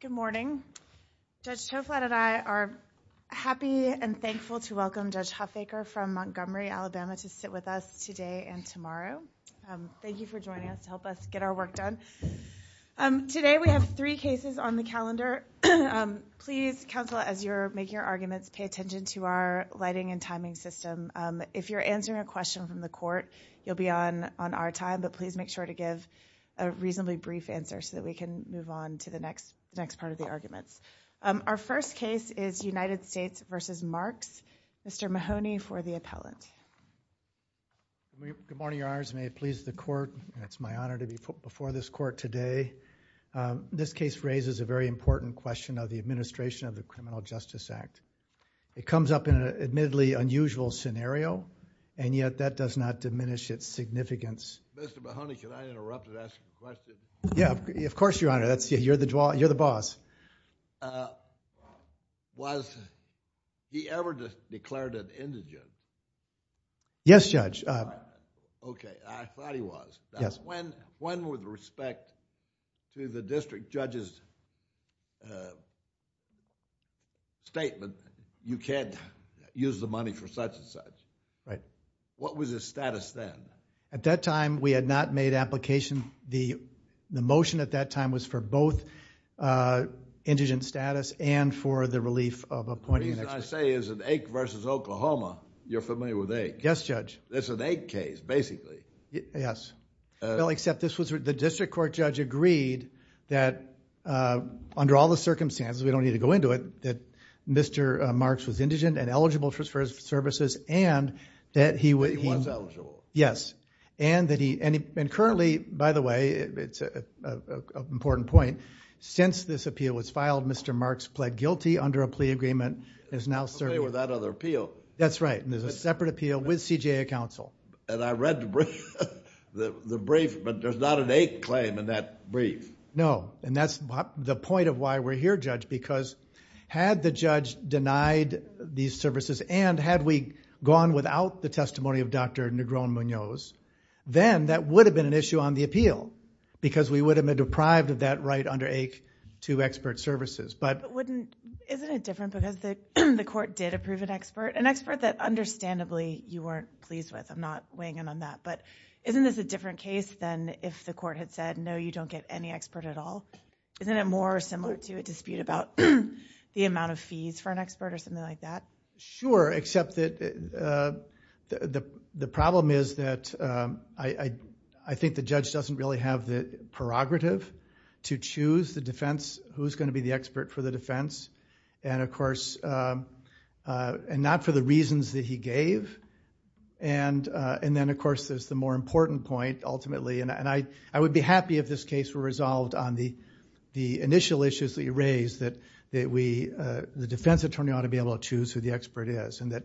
Good morning. Judge Toflat and I are happy and thankful to welcome Judge Huffaker from Montgomery, Alabama to sit with us today and tomorrow. Thank you for joining us to help us get our work done. Today we have three cases on the calendar. Please, counsel, as you're making your arguments, pay attention to our lighting and timing system. If you're answering a question from the court, you'll be on our time, but please make sure to give a reasonably brief answer so that we can move on to the next part of the arguments. Our first case is United States v. Marks. Mr. Mahoney for the appellant. Good morning, Your Honors. May it please the court. It's my honor to be before this court today. This case raises a very important question of the administration of the Criminal Justice Act. It comes up in an admittedly unusual scenario, and yet that does not diminish its significance. Mr. Mahoney, can I interrupt and ask a question? Yeah, of course, Your Honor. You're the boss. Was he ever declared an indigent? Yes, Judge. Okay. I thought he was. When, with respect to the district judge's statement, you can't use the money for such and such, what was his status then? At that time, we had not made application. The motion at that time was for both indigent status and for the relief of appointing... The reason I say is that Ake v. Oklahoma, you're familiar with Ake. Yes, Judge. It's an Ake case, basically. Yes. Well, except the district court judge agreed that under all the circumstances, we don't need to go into it, that Mr. Marks was indigent and eligible for his services and that... He was eligible. Yes, and that he... and currently, by the way, it's an important point, since this appeal was filed, Mr. Marks pled guilty under a plea agreement and is now serving... Okay, without other appeal. That's right. There's a separate appeal with CJA counsel. And I read the brief, but there's not an Ake claim in that brief. No, and that's the point of why we're here, Judge, because had the judge denied these services and had we gone without the testimony of Dr. Negron-Munoz, then that would have been an issue on the appeal, because we would have been deprived of that right under Ake to expert services, but... Wouldn't... Isn't it different because the court did approve an expert, an expert that understandably you weren't pleased with. I'm not weighing in on that, but isn't this a different case than if the court had said, no, you don't get any expert at all? Isn't it more similar to a dispute about the amount of fees for an expert or something like that? Sure, except that the problem is that I think the judge doesn't really have the prerogative to choose the defense, who's going to be the expert for the defense, and of course, not for the reasons that he gave. And then, of course, there's the more important point, ultimately, and I would be happy if this case were resolved on the initial issues that you raised, that the defense attorney ought to be able to choose who the expert is, and that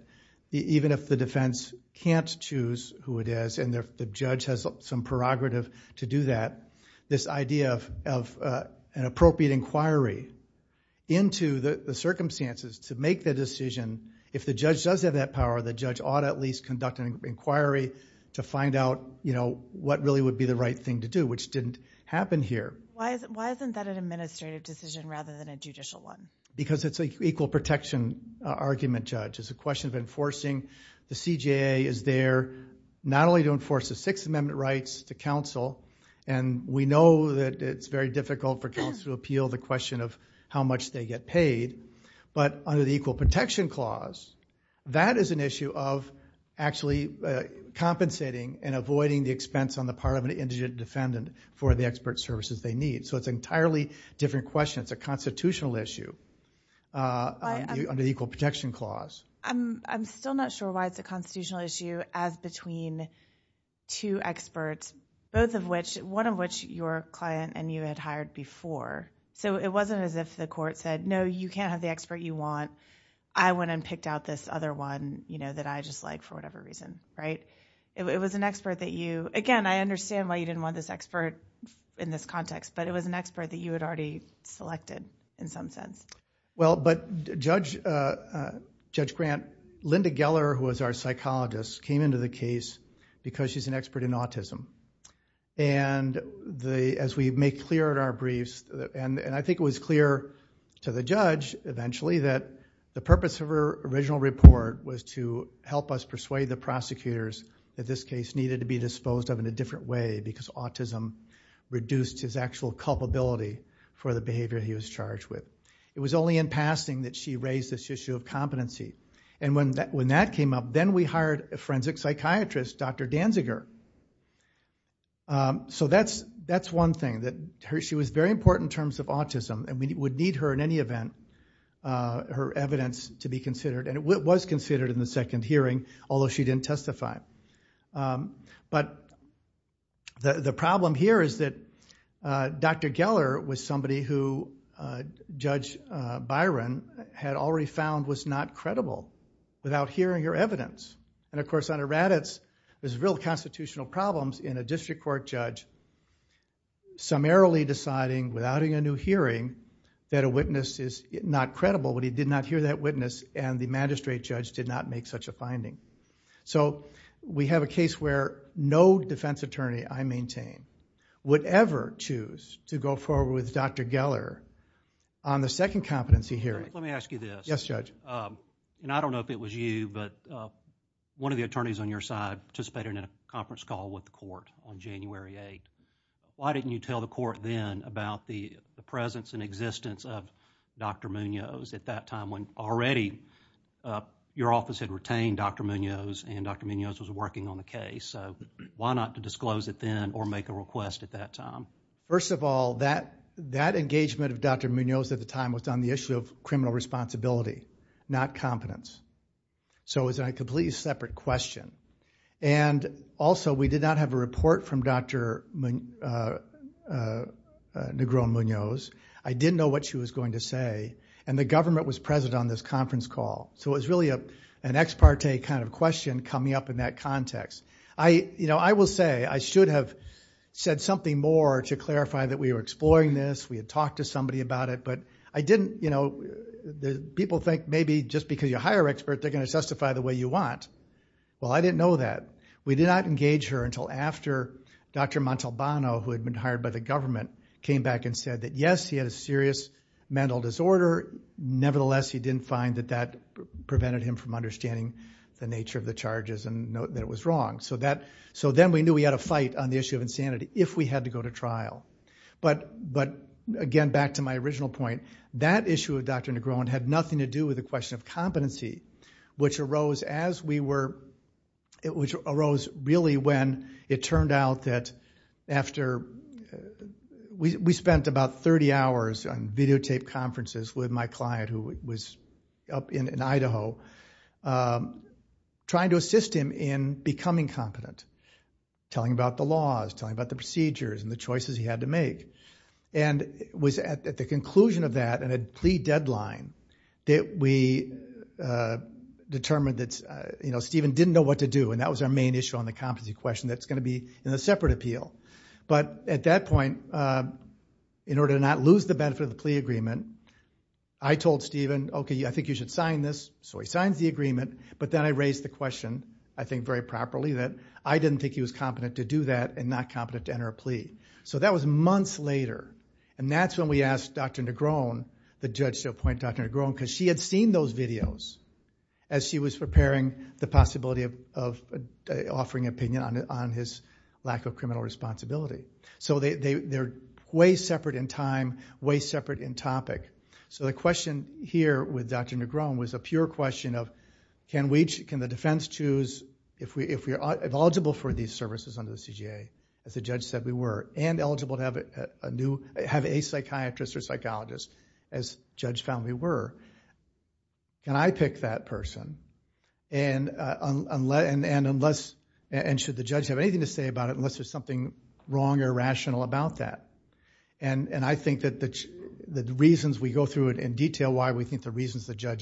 even if the defense can't choose who it is and the judge has some prerogative to do that, this idea of an appropriate inquiry into the circumstances to make the decision, if the judge does have that power, the judge ought to at least conduct an inquiry to find out what really would be the right thing to do, which didn't happen here. Why isn't that an administrative decision rather than a judicial one? Because it's an equal protection argument, Judge. It's a question of enforcing the CJA is there not only to enforce the Sixth Amendment rights to counsel, and we know that it's very difficult for counsel to appeal the question of how much they get paid, but under the Equal Protection Clause, that is an issue of actually compensating and avoiding the expense on the part of an indigent defendant for the expert services they need. It's an entirely different question. It's a constitutional issue under the Equal Protection Clause. I'm still not sure why it's a constitutional issue as between two experts, one of which your client and you had hired before. It wasn't as if the court said, no, you can't have the expert you want. I went and picked out this other one that I just like for whatever reason. It was an expert that you... Again, I understand why you didn't want this expert in this context, but it was an expert that you had already selected in some sense. Well, but Judge Grant, Linda Geller, who was our psychologist, came into the case because she's an expert in autism. As we make clear in our briefs, and I think it was clear to the judge eventually that the purpose of her original report was to help us persuade the prosecutors that this case needed to be disposed of in a different way because autism reduced his actual culpability for the behavior he was charged with. It was only in passing that she raised this issue of competency. When that came up, then we hired a forensic psychiatrist, Dr. Danziger. That's one thing. She was very important in terms of autism, and we would need her in any event. Her evidence to be considered, and it was considered in the second hearing, although she didn't testify. But the problem here is that Dr. Geller was somebody who Judge Byron had already found was not credible without hearing her evidence. Of course, under Raddatz, there's real constitutional problems in a district court judge summarily deciding without a new hearing that a witness is not credible, but he did not hear that witness, and the magistrate judge did not make such a finding. We have a case where no defense attorney I maintain would ever choose to go forward with Dr. Geller on the second competency hearing. Let me ask you this. Yes, Judge. I don't know if it was you, but one of the attorneys on your side participated in a conference call with the court on January 8th. Why didn't you tell the court then about the presence and existence of Dr. Munoz at that time when already your office had retained Dr. Munoz, and Dr. Munoz was working on the case, so why not disclose it then or make a request at that time? First of all, that engagement of Dr. Munoz at the time was on the issue of criminal responsibility, not competence, so it was a completely separate question. Also, we did not have a report from Dr. Negron Munoz. I didn't know what she was going to say, and the government was present on this conference call, so it was really an ex parte kind of question coming up in that context. I will say I should have said something more to clarify that we were exploring this. We had talked to somebody about it, but I didn't. People think maybe just because you're a higher expert, they're going to testify the way you want. Well, I didn't know that. We did not engage her until after Dr. Montalbano, who had been hired by the government, came back and said that, yes, he had a serious mental disorder. Nevertheless, he didn't find that that prevented him from understanding the nature of the charges and that it was wrong, so then we knew we had a fight on the issue of insanity if we had to go to trial. But again, back to my original point, that issue of Dr. Negron had nothing to do with the question of competency, which arose really when it turned out that after we spent about 30 hours on videotaped conferences with my client, who was up in Idaho, trying to assist him in becoming competent, telling about the laws, telling about the procedures and the choices he had to make. And it was at the conclusion of that and a plea deadline that we determined that Stephen didn't know what to do. And that was our main issue on the competency question that's going to be in a separate appeal. But at that point, in order to not lose the benefit of the plea agreement, I told Stephen, OK, I think you should sign this. So he signs the agreement. But then I raised the question, I think very properly, that I didn't think he was competent to do that and not competent to enter a plea. So that was months later. And that's when we asked Dr. Negron, the judge to appoint Dr. Negron, because she had seen those videos as she was preparing the possibility of offering an opinion on his lack of criminal responsibility. So they're way separate in time, way separate in topic. So the question here with Dr. Negron was a pure question of can the defense choose, if we are eligible for these services under the CJA, as the judge said we were, and eligible to have a psychiatrist or psychologist, as judge found we were, can I pick that person? And should the judge have anything to say about it unless there's something wrong or rational about that? And I think that the reasons we go through it in detail, why we think the reasons the judge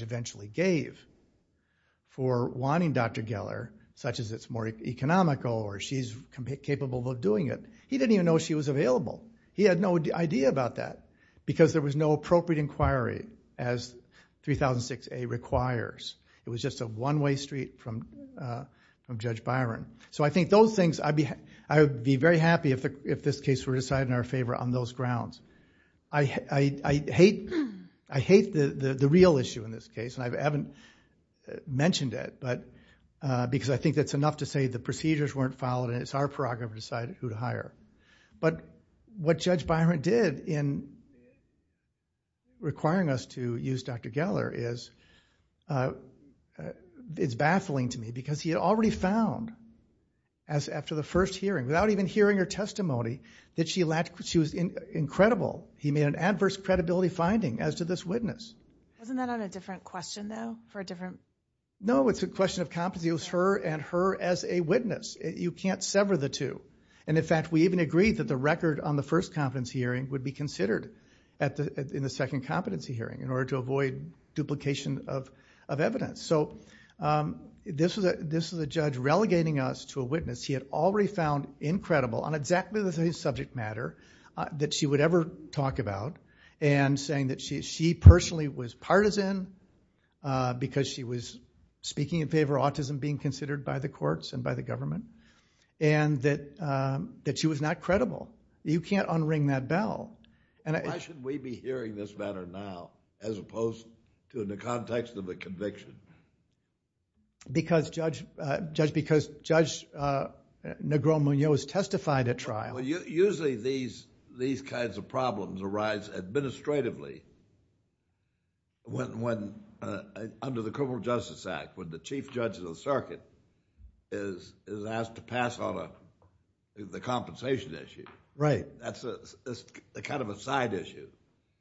said, oh, she's more economical or she's capable of doing it, he didn't even know she was available. He had no idea about that, because there was no appropriate inquiry as 3006A requires. It was just a one-way street from Judge Byron. So I think those things, I would be very happy if this case were decided in our favor on those grounds. I hate the real issue in this case, and I haven't mentioned it, because I think that's why the procedures weren't followed, and it's our prerogative to decide who to hire. But what Judge Byron did in requiring us to use Dr. Geller is, it's baffling to me, because he had already found, after the first hearing, without even hearing her testimony, that she was incredible. He made an adverse credibility finding, as did this witness. Wasn't that on a different question, though, for a different? No, it's a question of competency. Use her and her as a witness. You can't sever the two. And in fact, we even agreed that the record on the first competency hearing would be considered in the second competency hearing, in order to avoid duplication of evidence. So this is a judge relegating us to a witness. He had already found incredible, on exactly the same subject matter that she would ever talk about, and saying that she personally was partisan, because she was speaking in favor of being considered by the courts and by the government, and that she was not credible. You can't unring that bell. Why should we be hearing this matter now, as opposed to in the context of a conviction? Because Judge Negron Munoz testified at trial. Usually, these kinds of problems arise administratively. When, under the Criminal Justice Act, when the chief judge of the circuit is asked to pass on the compensation issue. Right. That's kind of a side issue.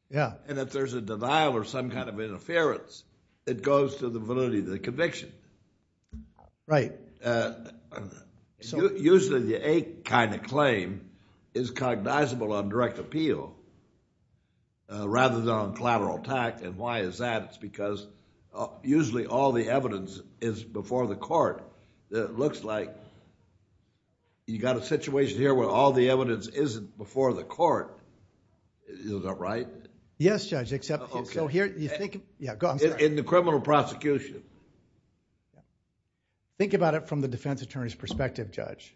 Yeah. And if there's a denial or some kind of interference, it goes to the validity of the conviction. Right. Usually, the A kind of claim is cognizable on direct appeal, rather than on collateral attack, and why is that? It's because usually, all the evidence is before the court. It looks like you got a situation here where all the evidence isn't before the court. Is that right? Yes, Judge, except... Okay. So here, you think... Yeah, go ahead. In the criminal prosecution. Think about it from the defense attorney's perspective, Judge.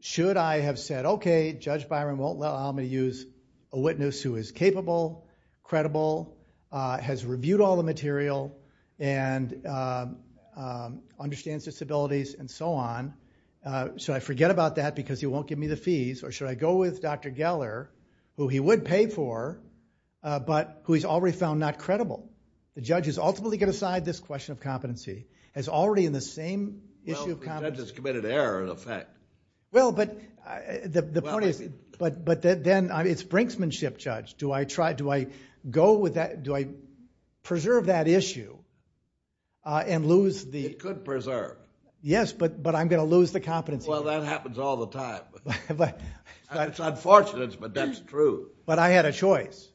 Should I have said, okay, Judge Byron won't allow me to use a witness who is has reviewed all the material and understands disabilities and so on. Should I forget about that because he won't give me the fees, or should I go with Dr. Geller, who he would pay for, but who he's already found not credible? The judges ultimately get aside this question of competency. As already in the same issue... Well, the judge has committed error, in effect. Well, but the point is... But then, it's brinksmanship, Judge. Do I go with that... Do I preserve that issue and lose the... It could preserve. Yes, but I'm going to lose the competency. Well, that happens all the time. It's unfortunate, but that's true. But I had a choice,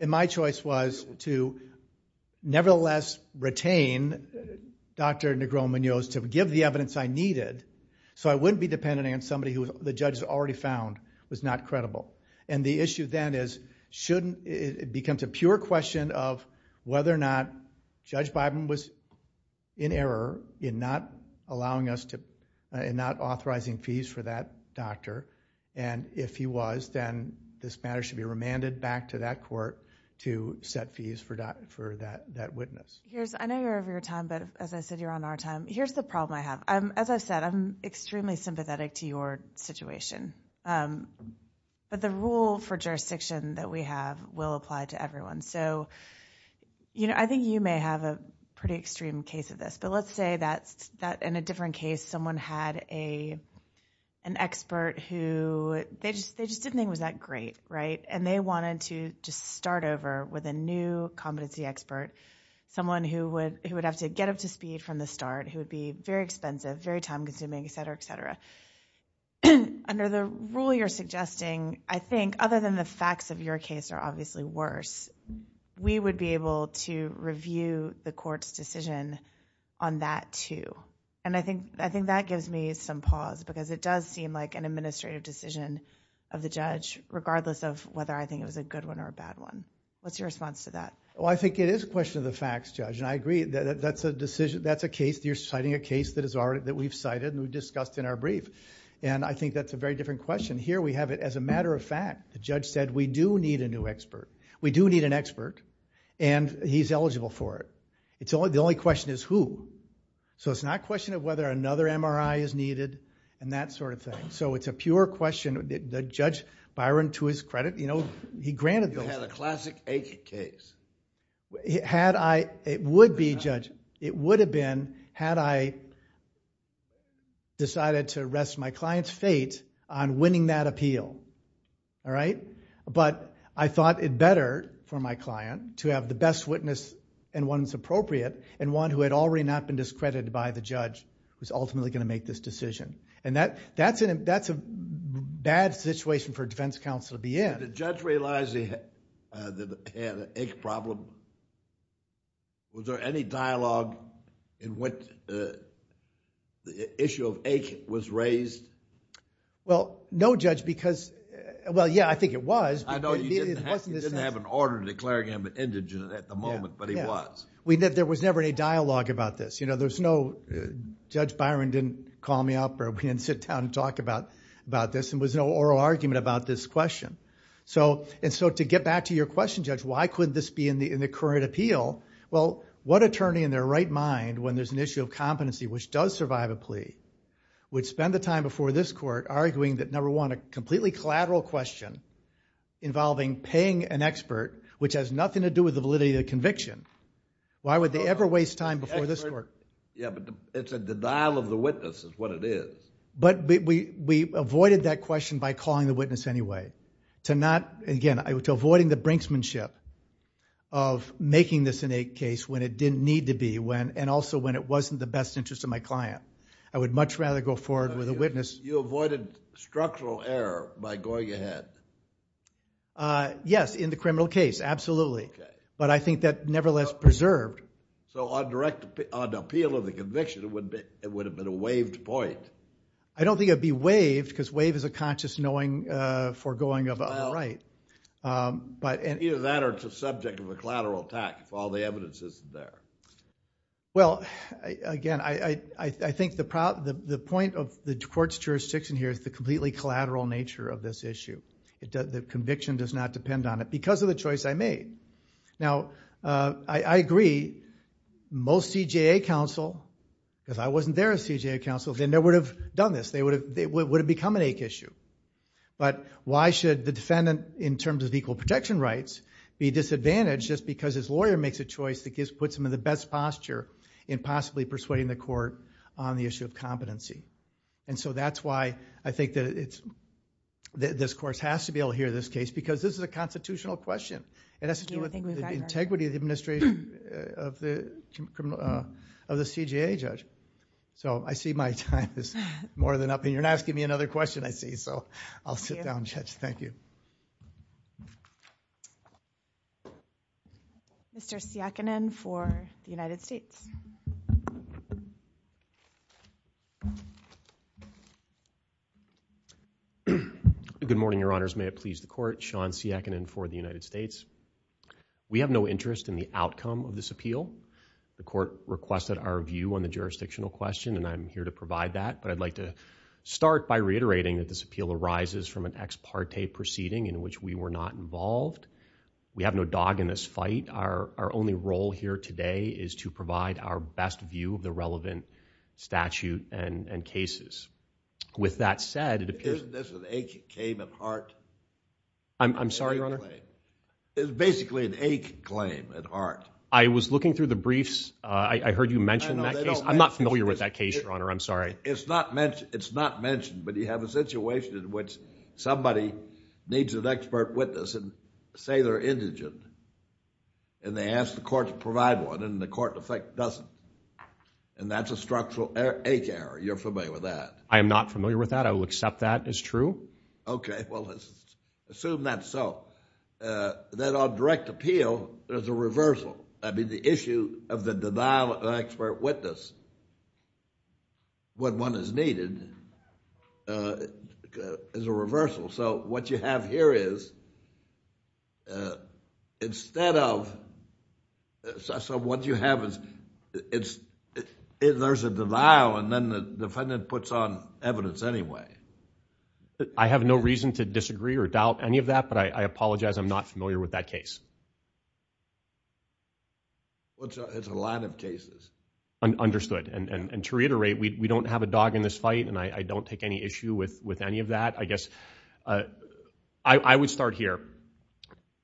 and my choice was to nevertheless retain Dr. Negron-Munoz to give the evidence I needed so I wouldn't be dependent on somebody who the issue then is... it becomes a pure question of whether or not Judge Biden was in error in not allowing us to... in not authorizing fees for that doctor. If he was, then this matter should be remanded back to that court to set fees for that witness. I know you're over your time, but as I said, you're on our time. Here's the problem I have. As I've said, I'm extremely sympathetic to your situation. But the rule for jurisdiction that we have will apply to everyone. I think you may have a pretty extreme case of this, but let's say that in a different case, someone had an expert who... they just didn't think it was that great, and they wanted to just start over with a new competency expert, someone who would have to get up to speed from the start, who would be very expensive, very time-consuming, etc., etc. But under the rule you're suggesting, I think other than the facts of your case are obviously worse, we would be able to review the court's decision on that too. I think that gives me some pause, because it does seem like an administrative decision of the judge, regardless of whether I think it was a good one or a bad one. What's your response to that? I think it is a question of the facts, Judge, and I agree that that's a decision... that's you're citing a case that we've cited and we've discussed in our brief. I think that's a very different question. Here we have it as a matter of fact. The judge said, we do need a new expert. We do need an expert, and he's eligible for it. The only question is who. So it's not a question of whether another MRI is needed and that sort of thing. So it's a pure question. The judge, Byron, to his credit, he granted those... You had a classic agent case. Had I... it would be, Judge, it would have been, had I decided to rest my client's fate on winning that appeal, all right? But I thought it better for my client to have the best witness and one that's appropriate and one who had already not been discredited by the judge who's ultimately going to make this decision. That's a bad situation for defense counsel to be in. Did the judge realize he had an ache problem? Was there any dialogue in which the issue of ache was raised? Well, no, Judge, because... well, yeah, I think it was. I know you didn't have an order declaring him indigent at the moment, but he was. There was never any dialogue about this. There's no... Judge Byron didn't call me up or we didn't sit down and talk about this, and there was no oral argument about this question. And so to get back to your question, Judge, why couldn't this be in the current appeal? Well, what attorney in their right mind, when there's an issue of competency which does survive a plea, would spend the time before this court arguing that, number one, a completely collateral question involving paying an expert, which has nothing to do with the validity of the conviction. Why would they ever waste time before this court? Yeah, but it's a denial of the witness is what it is. But we avoided that question by calling the witness anyway. To not... again, to avoiding the brinksmanship of making this in a case when it didn't need to be, and also when it wasn't the best interest of my client. I would much rather go forward with a witness... You avoided structural error by going ahead. Yes, in the criminal case, absolutely. But I think that nevertheless preserved... So on appeal of the conviction, it would have been a waived point. I don't think it would be waived because waive is a conscious knowing foregoing of a right. Either that or it's a subject of a collateral attack if all the evidence isn't there. Well, again, I think the point of the court's jurisdiction here is the completely collateral nature of this issue. The conviction does not depend on it because of the choice I made. Now, I agree, most CJA counsel, because I wasn't there as CJA counsel, they never would have done this. They would have become an ache issue. But why should the defendant, in terms of equal protection rights, be disadvantaged just because his lawyer makes a choice that puts him in the best posture in possibly persuading the court on the issue of competency? So that's why I think that this court has to be able to hear this case because this is a constitutional question. It has to do with the integrity of the administration of the CJA judge. So I see my time is more than up, and you're not asking me another question, I see. So I'll sit down, Judge. Thank you. Mr. Siakkanen for the United States. Good morning, Your Honors. May it please the court. Sean Siakkanen for the United States. We have no interest in the outcome of this appeal. The court requested our view on the jurisdictional question, and I'm here to provide that. I'd like to start by reiterating that this appeal arises from an ex parte proceeding in which we were not involved. We have no dog in this fight. Our only role here today is to provide our best view of the relevant statute and cases. With that said, it appears... Isn't this an ache claim at heart? I'm sorry, Your Honor. It's basically an ache claim at heart. I was looking through the briefs. I heard you mention that case. I'm not familiar with that case, Your Honor. I'm sorry. It's not mentioned, but you have a situation in which somebody needs an expert witness and say they're indigent, and they ask the court to provide one, and the court, in effect, doesn't. And that's a structural ache error. You're familiar with that? I am not familiar with that. I will accept that as true. Okay. Well, let's assume that's so. Then on direct appeal, there's a reversal. The issue of the denial of expert witness, what one has needed, is a reversal. So what you have here is, instead of... So what you have is, there's a denial, and then the defendant puts on evidence anyway. I have no reason to disagree or doubt any of that, but I apologize, I'm not familiar with that case. Well, it's a lot of cases. Understood. And to reiterate, we don't have a dog in this fight, and I don't take any issue with any of that. I guess, I would start here.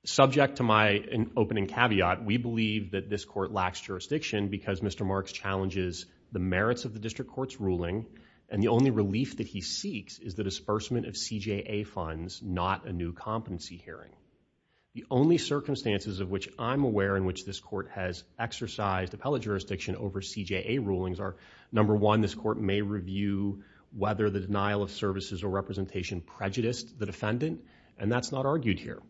Subject to my opening caveat, we believe that this court lacks jurisdiction because Mr. Marks challenges the merits of the district court's ruling, and the only relief that he seeks is the disbursement of CJA funds, not a new competency hearing. The only circumstances of which I'm aware in which this court has exercised appellate jurisdiction over CJA rulings are, number one, this court may review whether the denial of services or representation prejudiced the defendant, and that's not argued here.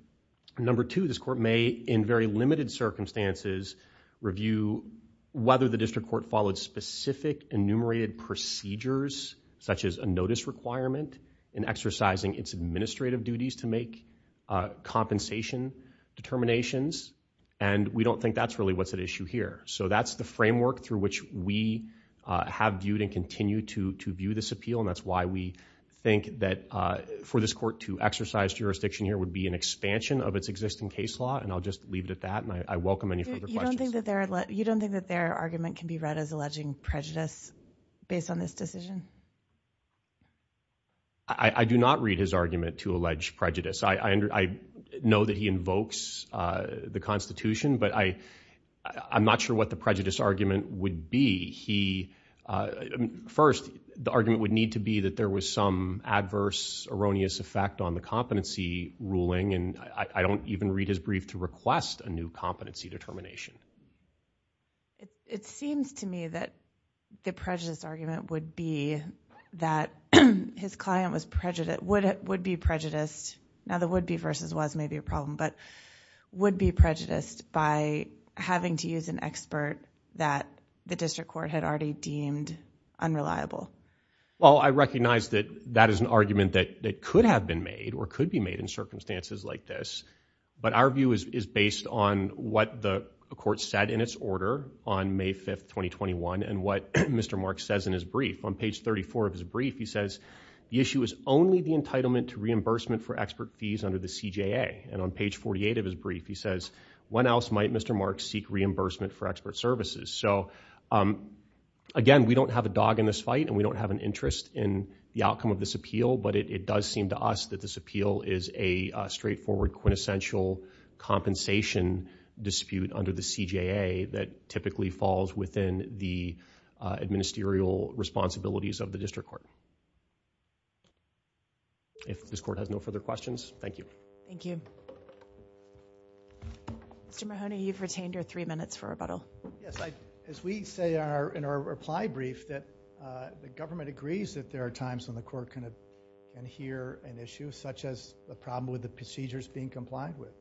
Number two, this court may, in very limited circumstances, review whether the district court followed specific enumerated procedures, such as a notice requirement in exercising its administrative duties to make compensation determinations, and we don't think that's really what's at issue here. So that's the framework through which we have viewed and continue to view this appeal, and that's why we think that for this court to exercise jurisdiction here would be an expansion of its existing case law, and I'll just leave it at that, and I welcome any further questions. You don't think that their argument can be read as alleging prejudice based on this decision? I do not read his argument to allege prejudice. I know that he invokes the Constitution, but I'm not sure what the prejudice argument would be. First, the argument would need to be that there was some adverse erroneous effect on the competency ruling, and I don't even read his brief to request a new competency determination. It seems to me that the prejudice argument would be that his client would be prejudiced. Now, the would be versus was maybe a problem, but would be prejudiced by having to use an expert that the district court had already deemed unreliable. Well, I recognize that that is an argument that could have been made or could be made in circumstances like this, but our view is based on what the court said in its order on May 5th, 2021, and what Mr. Marks says in his brief. On page 34 of his brief, he says, the issue is only the entitlement to reimbursement for expert fees under the CJA, and on page 48 of his brief, he says, when else might Mr. Marks seek reimbursement for expert services? So again, we don't have a dog in this fight, and we don't have an interest in the outcome of this appeal, but it does seem to us that this appeal is a straightforward quintessential compensation dispute under the CJA that typically falls within the responsibilities of the district court. If this court has no further questions, thank you. Thank you. Mr. Mahoney, you've retained your three minutes for rebuttal. Yes, as we say in our reply brief that the government agrees that there are times when the court can adhere an issue such as a problem with the procedures being complied with.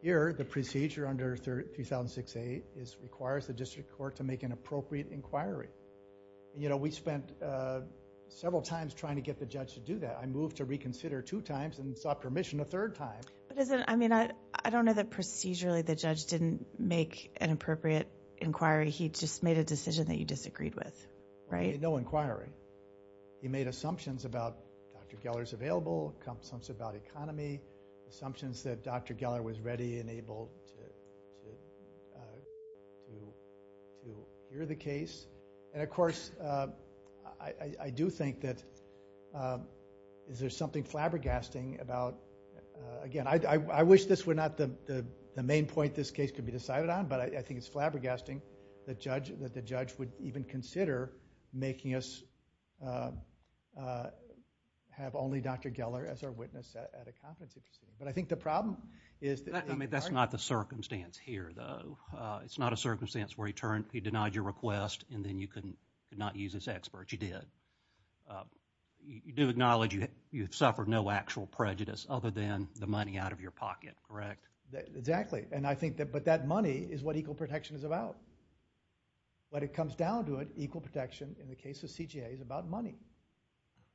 Here, the procedure under 3006A requires the district court to make an appropriate inquiry. We spent several times trying to get the judge to do that. I moved to reconsider two times and sought permission a third time. I don't know that procedurally the judge didn't make an appropriate inquiry. He just made a decision that you disagreed with, right? No inquiry. He made assumptions about Dr. Geller's available, assumptions about economy, assumptions that Dr. Geller was ready and able to hear the case. Of course, I do think that there's something flabbergasting about... Again, I wish this were not the main point this case could be decided on, but I think it's flabbergasting that the judge would even consider making us have only Dr. Geller as our witness at a compensation. I think the problem is... That's not the circumstance here, though. It's not a circumstance where he denied your request, and then you could not use this expert. You did. You do acknowledge you have suffered no actual prejudice other than the money out of your pocket, correct? Exactly. But that money is what equal protection is about. When it comes down to it, equal protection in the case of CJA is about money.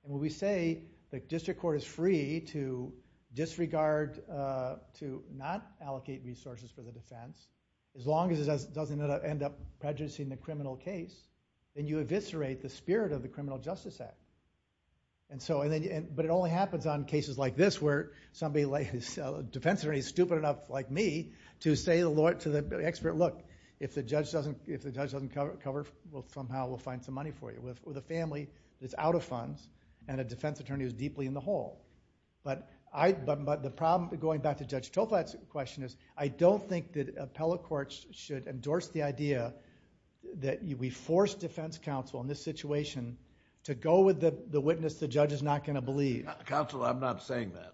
When we say the district court is free to disregard, to not allocate resources for the defense, as long as it doesn't end up prejudicing the criminal case, then you eviscerate the spirit of the Criminal Justice Act. But it only happens on cases like this, where somebody's defense attorney is stupid enough, like me, to say to the expert, look, if the judge doesn't cover, somehow we'll find some money for you. With a family that's out of funds, and a defense attorney who's deeply in the hole. But the problem, going back to Judge Toplat's question, I don't think that appellate courts should endorse the idea that we force defense counsel in this situation to go with the witness the judge is not going to believe. Counsel, I'm not saying that.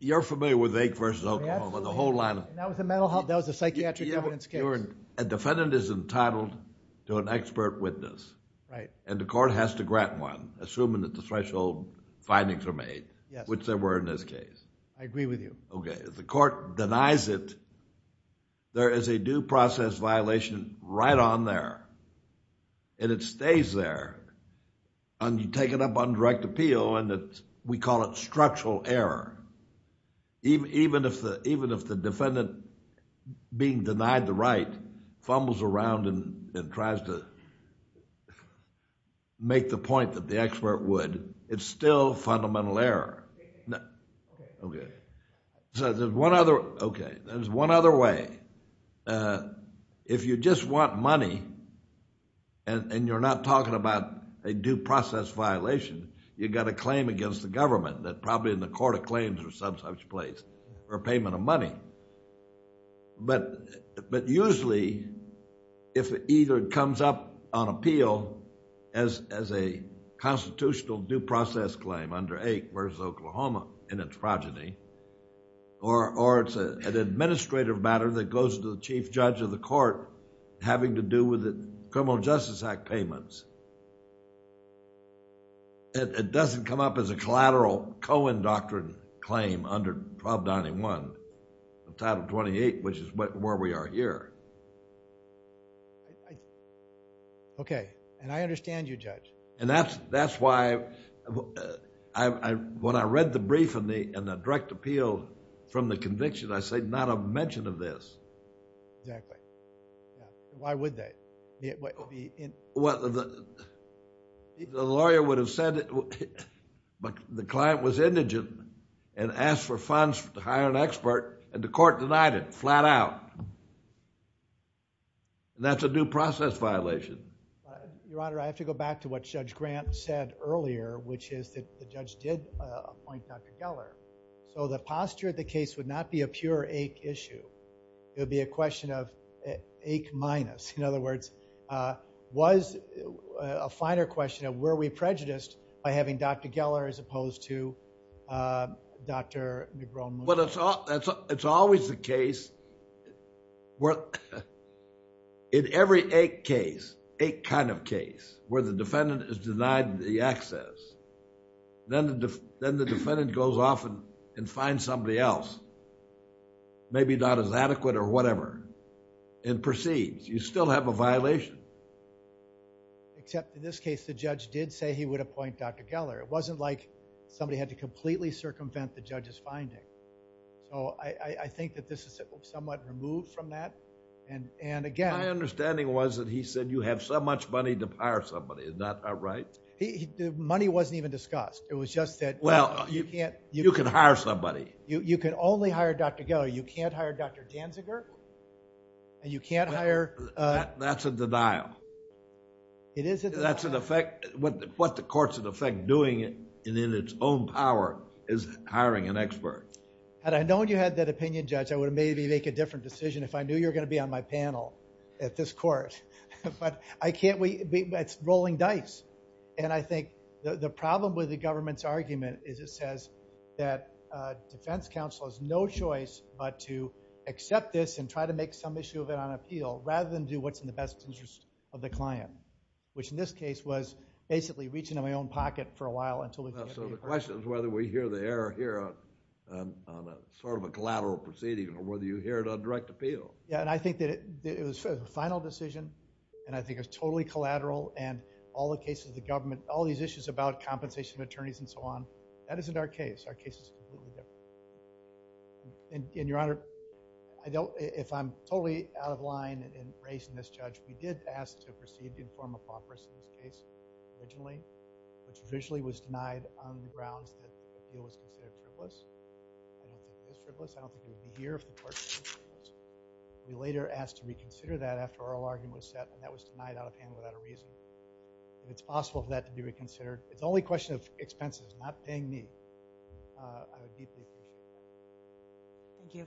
You're familiar with Ake v. Oklahoma, the whole line of... That was a psychiatric evidence case. A defendant is entitled to an expert witness, and the court has to grant one, assuming that the threshold findings are made, which they were in this case. I agree with you. Okay. If the court denies it, there is a due process violation right on there, and it stays there, and you take it up on direct appeal, and we call it structural error. Even if the defendant, being denied the right, fumbles around and tries to make the point that the expert would, it's still fundamental error. Okay. So there's one other, okay, there's one other way. If you just want money, and you're not talking about a due process violation, you've got a claim against the government that probably in the court of claims or some such place for payment of money. But usually, if it either comes up on appeal as a constitutional due process claim under eight versus Oklahoma in its progeny, or it's an administrative matter that goes to the chief judge of the court having to do with the Criminal Justice Act payments, it doesn't come up as a collateral Cohen doctrine claim under 1291 of Title 28, which is where we are here. Okay, and I understand you, Judge. And that's why when I read the brief and the direct appeal from the conviction, I say not a mention of this. Exactly. Why would they? The lawyer would have said that the client was indigent and asked for funds to hire an expert, and the court denied it flat out. And that's a due process violation. Your Honor, I have to go back to what Judge Grant said earlier, which is that the judge did appoint Dr. Geller. So the posture of the case would not be a pure ache issue. It would be a question of ache minus. In other words, was a finer question of were we prejudiced by having Dr. Geller as opposed to Dr. Negron-Morris. It's always the case where in every ache case, ache kind of case, where the defendant is denied the access, then the defendant goes off and finds somebody else, maybe not as adequate or whatever, and proceeds. You still have a violation. Except in this case, the judge did say he would appoint Dr. Geller. It wasn't like somebody had to completely circumvent the judge's finding. So I think that this is somewhat removed from that. And again- My understanding was that he said you have so much money to hire somebody. Is that not right? Money wasn't even discussed. It was just that- Well, you can hire somebody. You can only hire Dr. Geller. You can't hire Dr. Janziger, and you can't hire- That's a denial. It is a denial. That's an effect. What the court's, in effect, doing in its own power is hiring an expert. Had I known you had that opinion, Judge, I would maybe make a different decision if I knew you were going to be on my panel at this court. But I can't wait. It's rolling dice. And I think the problem with the government's argument is it says that defense counsel has no choice but to accept this and try to make some issue of it on appeal rather than do what's in the best interest of the client, which in this case was basically reaching into my own pocket for a while until- So the question is whether we hear the error here on a sort of a collateral proceeding or whether you hear it on direct appeal. Yeah, and I think that it was a final decision, and I think it was totally collateral, and all the cases of the government, all these issues about compensation attorneys and so on, that isn't our case. Our case is completely different. And, Your Honor, I don't- If I'm totally out of line in raising this, Judge, we did ask to proceed to inform a property case originally, which officially was denied on the grounds that the appeal was considered frivolous. I don't think it was frivolous. I don't think it would be here if the court- We later asked to reconsider that after our whole argument was set, and that was denied out of hand without a reason. If it's possible for that to be reconsidered, it's only a question of expenses, not paying me. I deeply appreciate that. Thank you.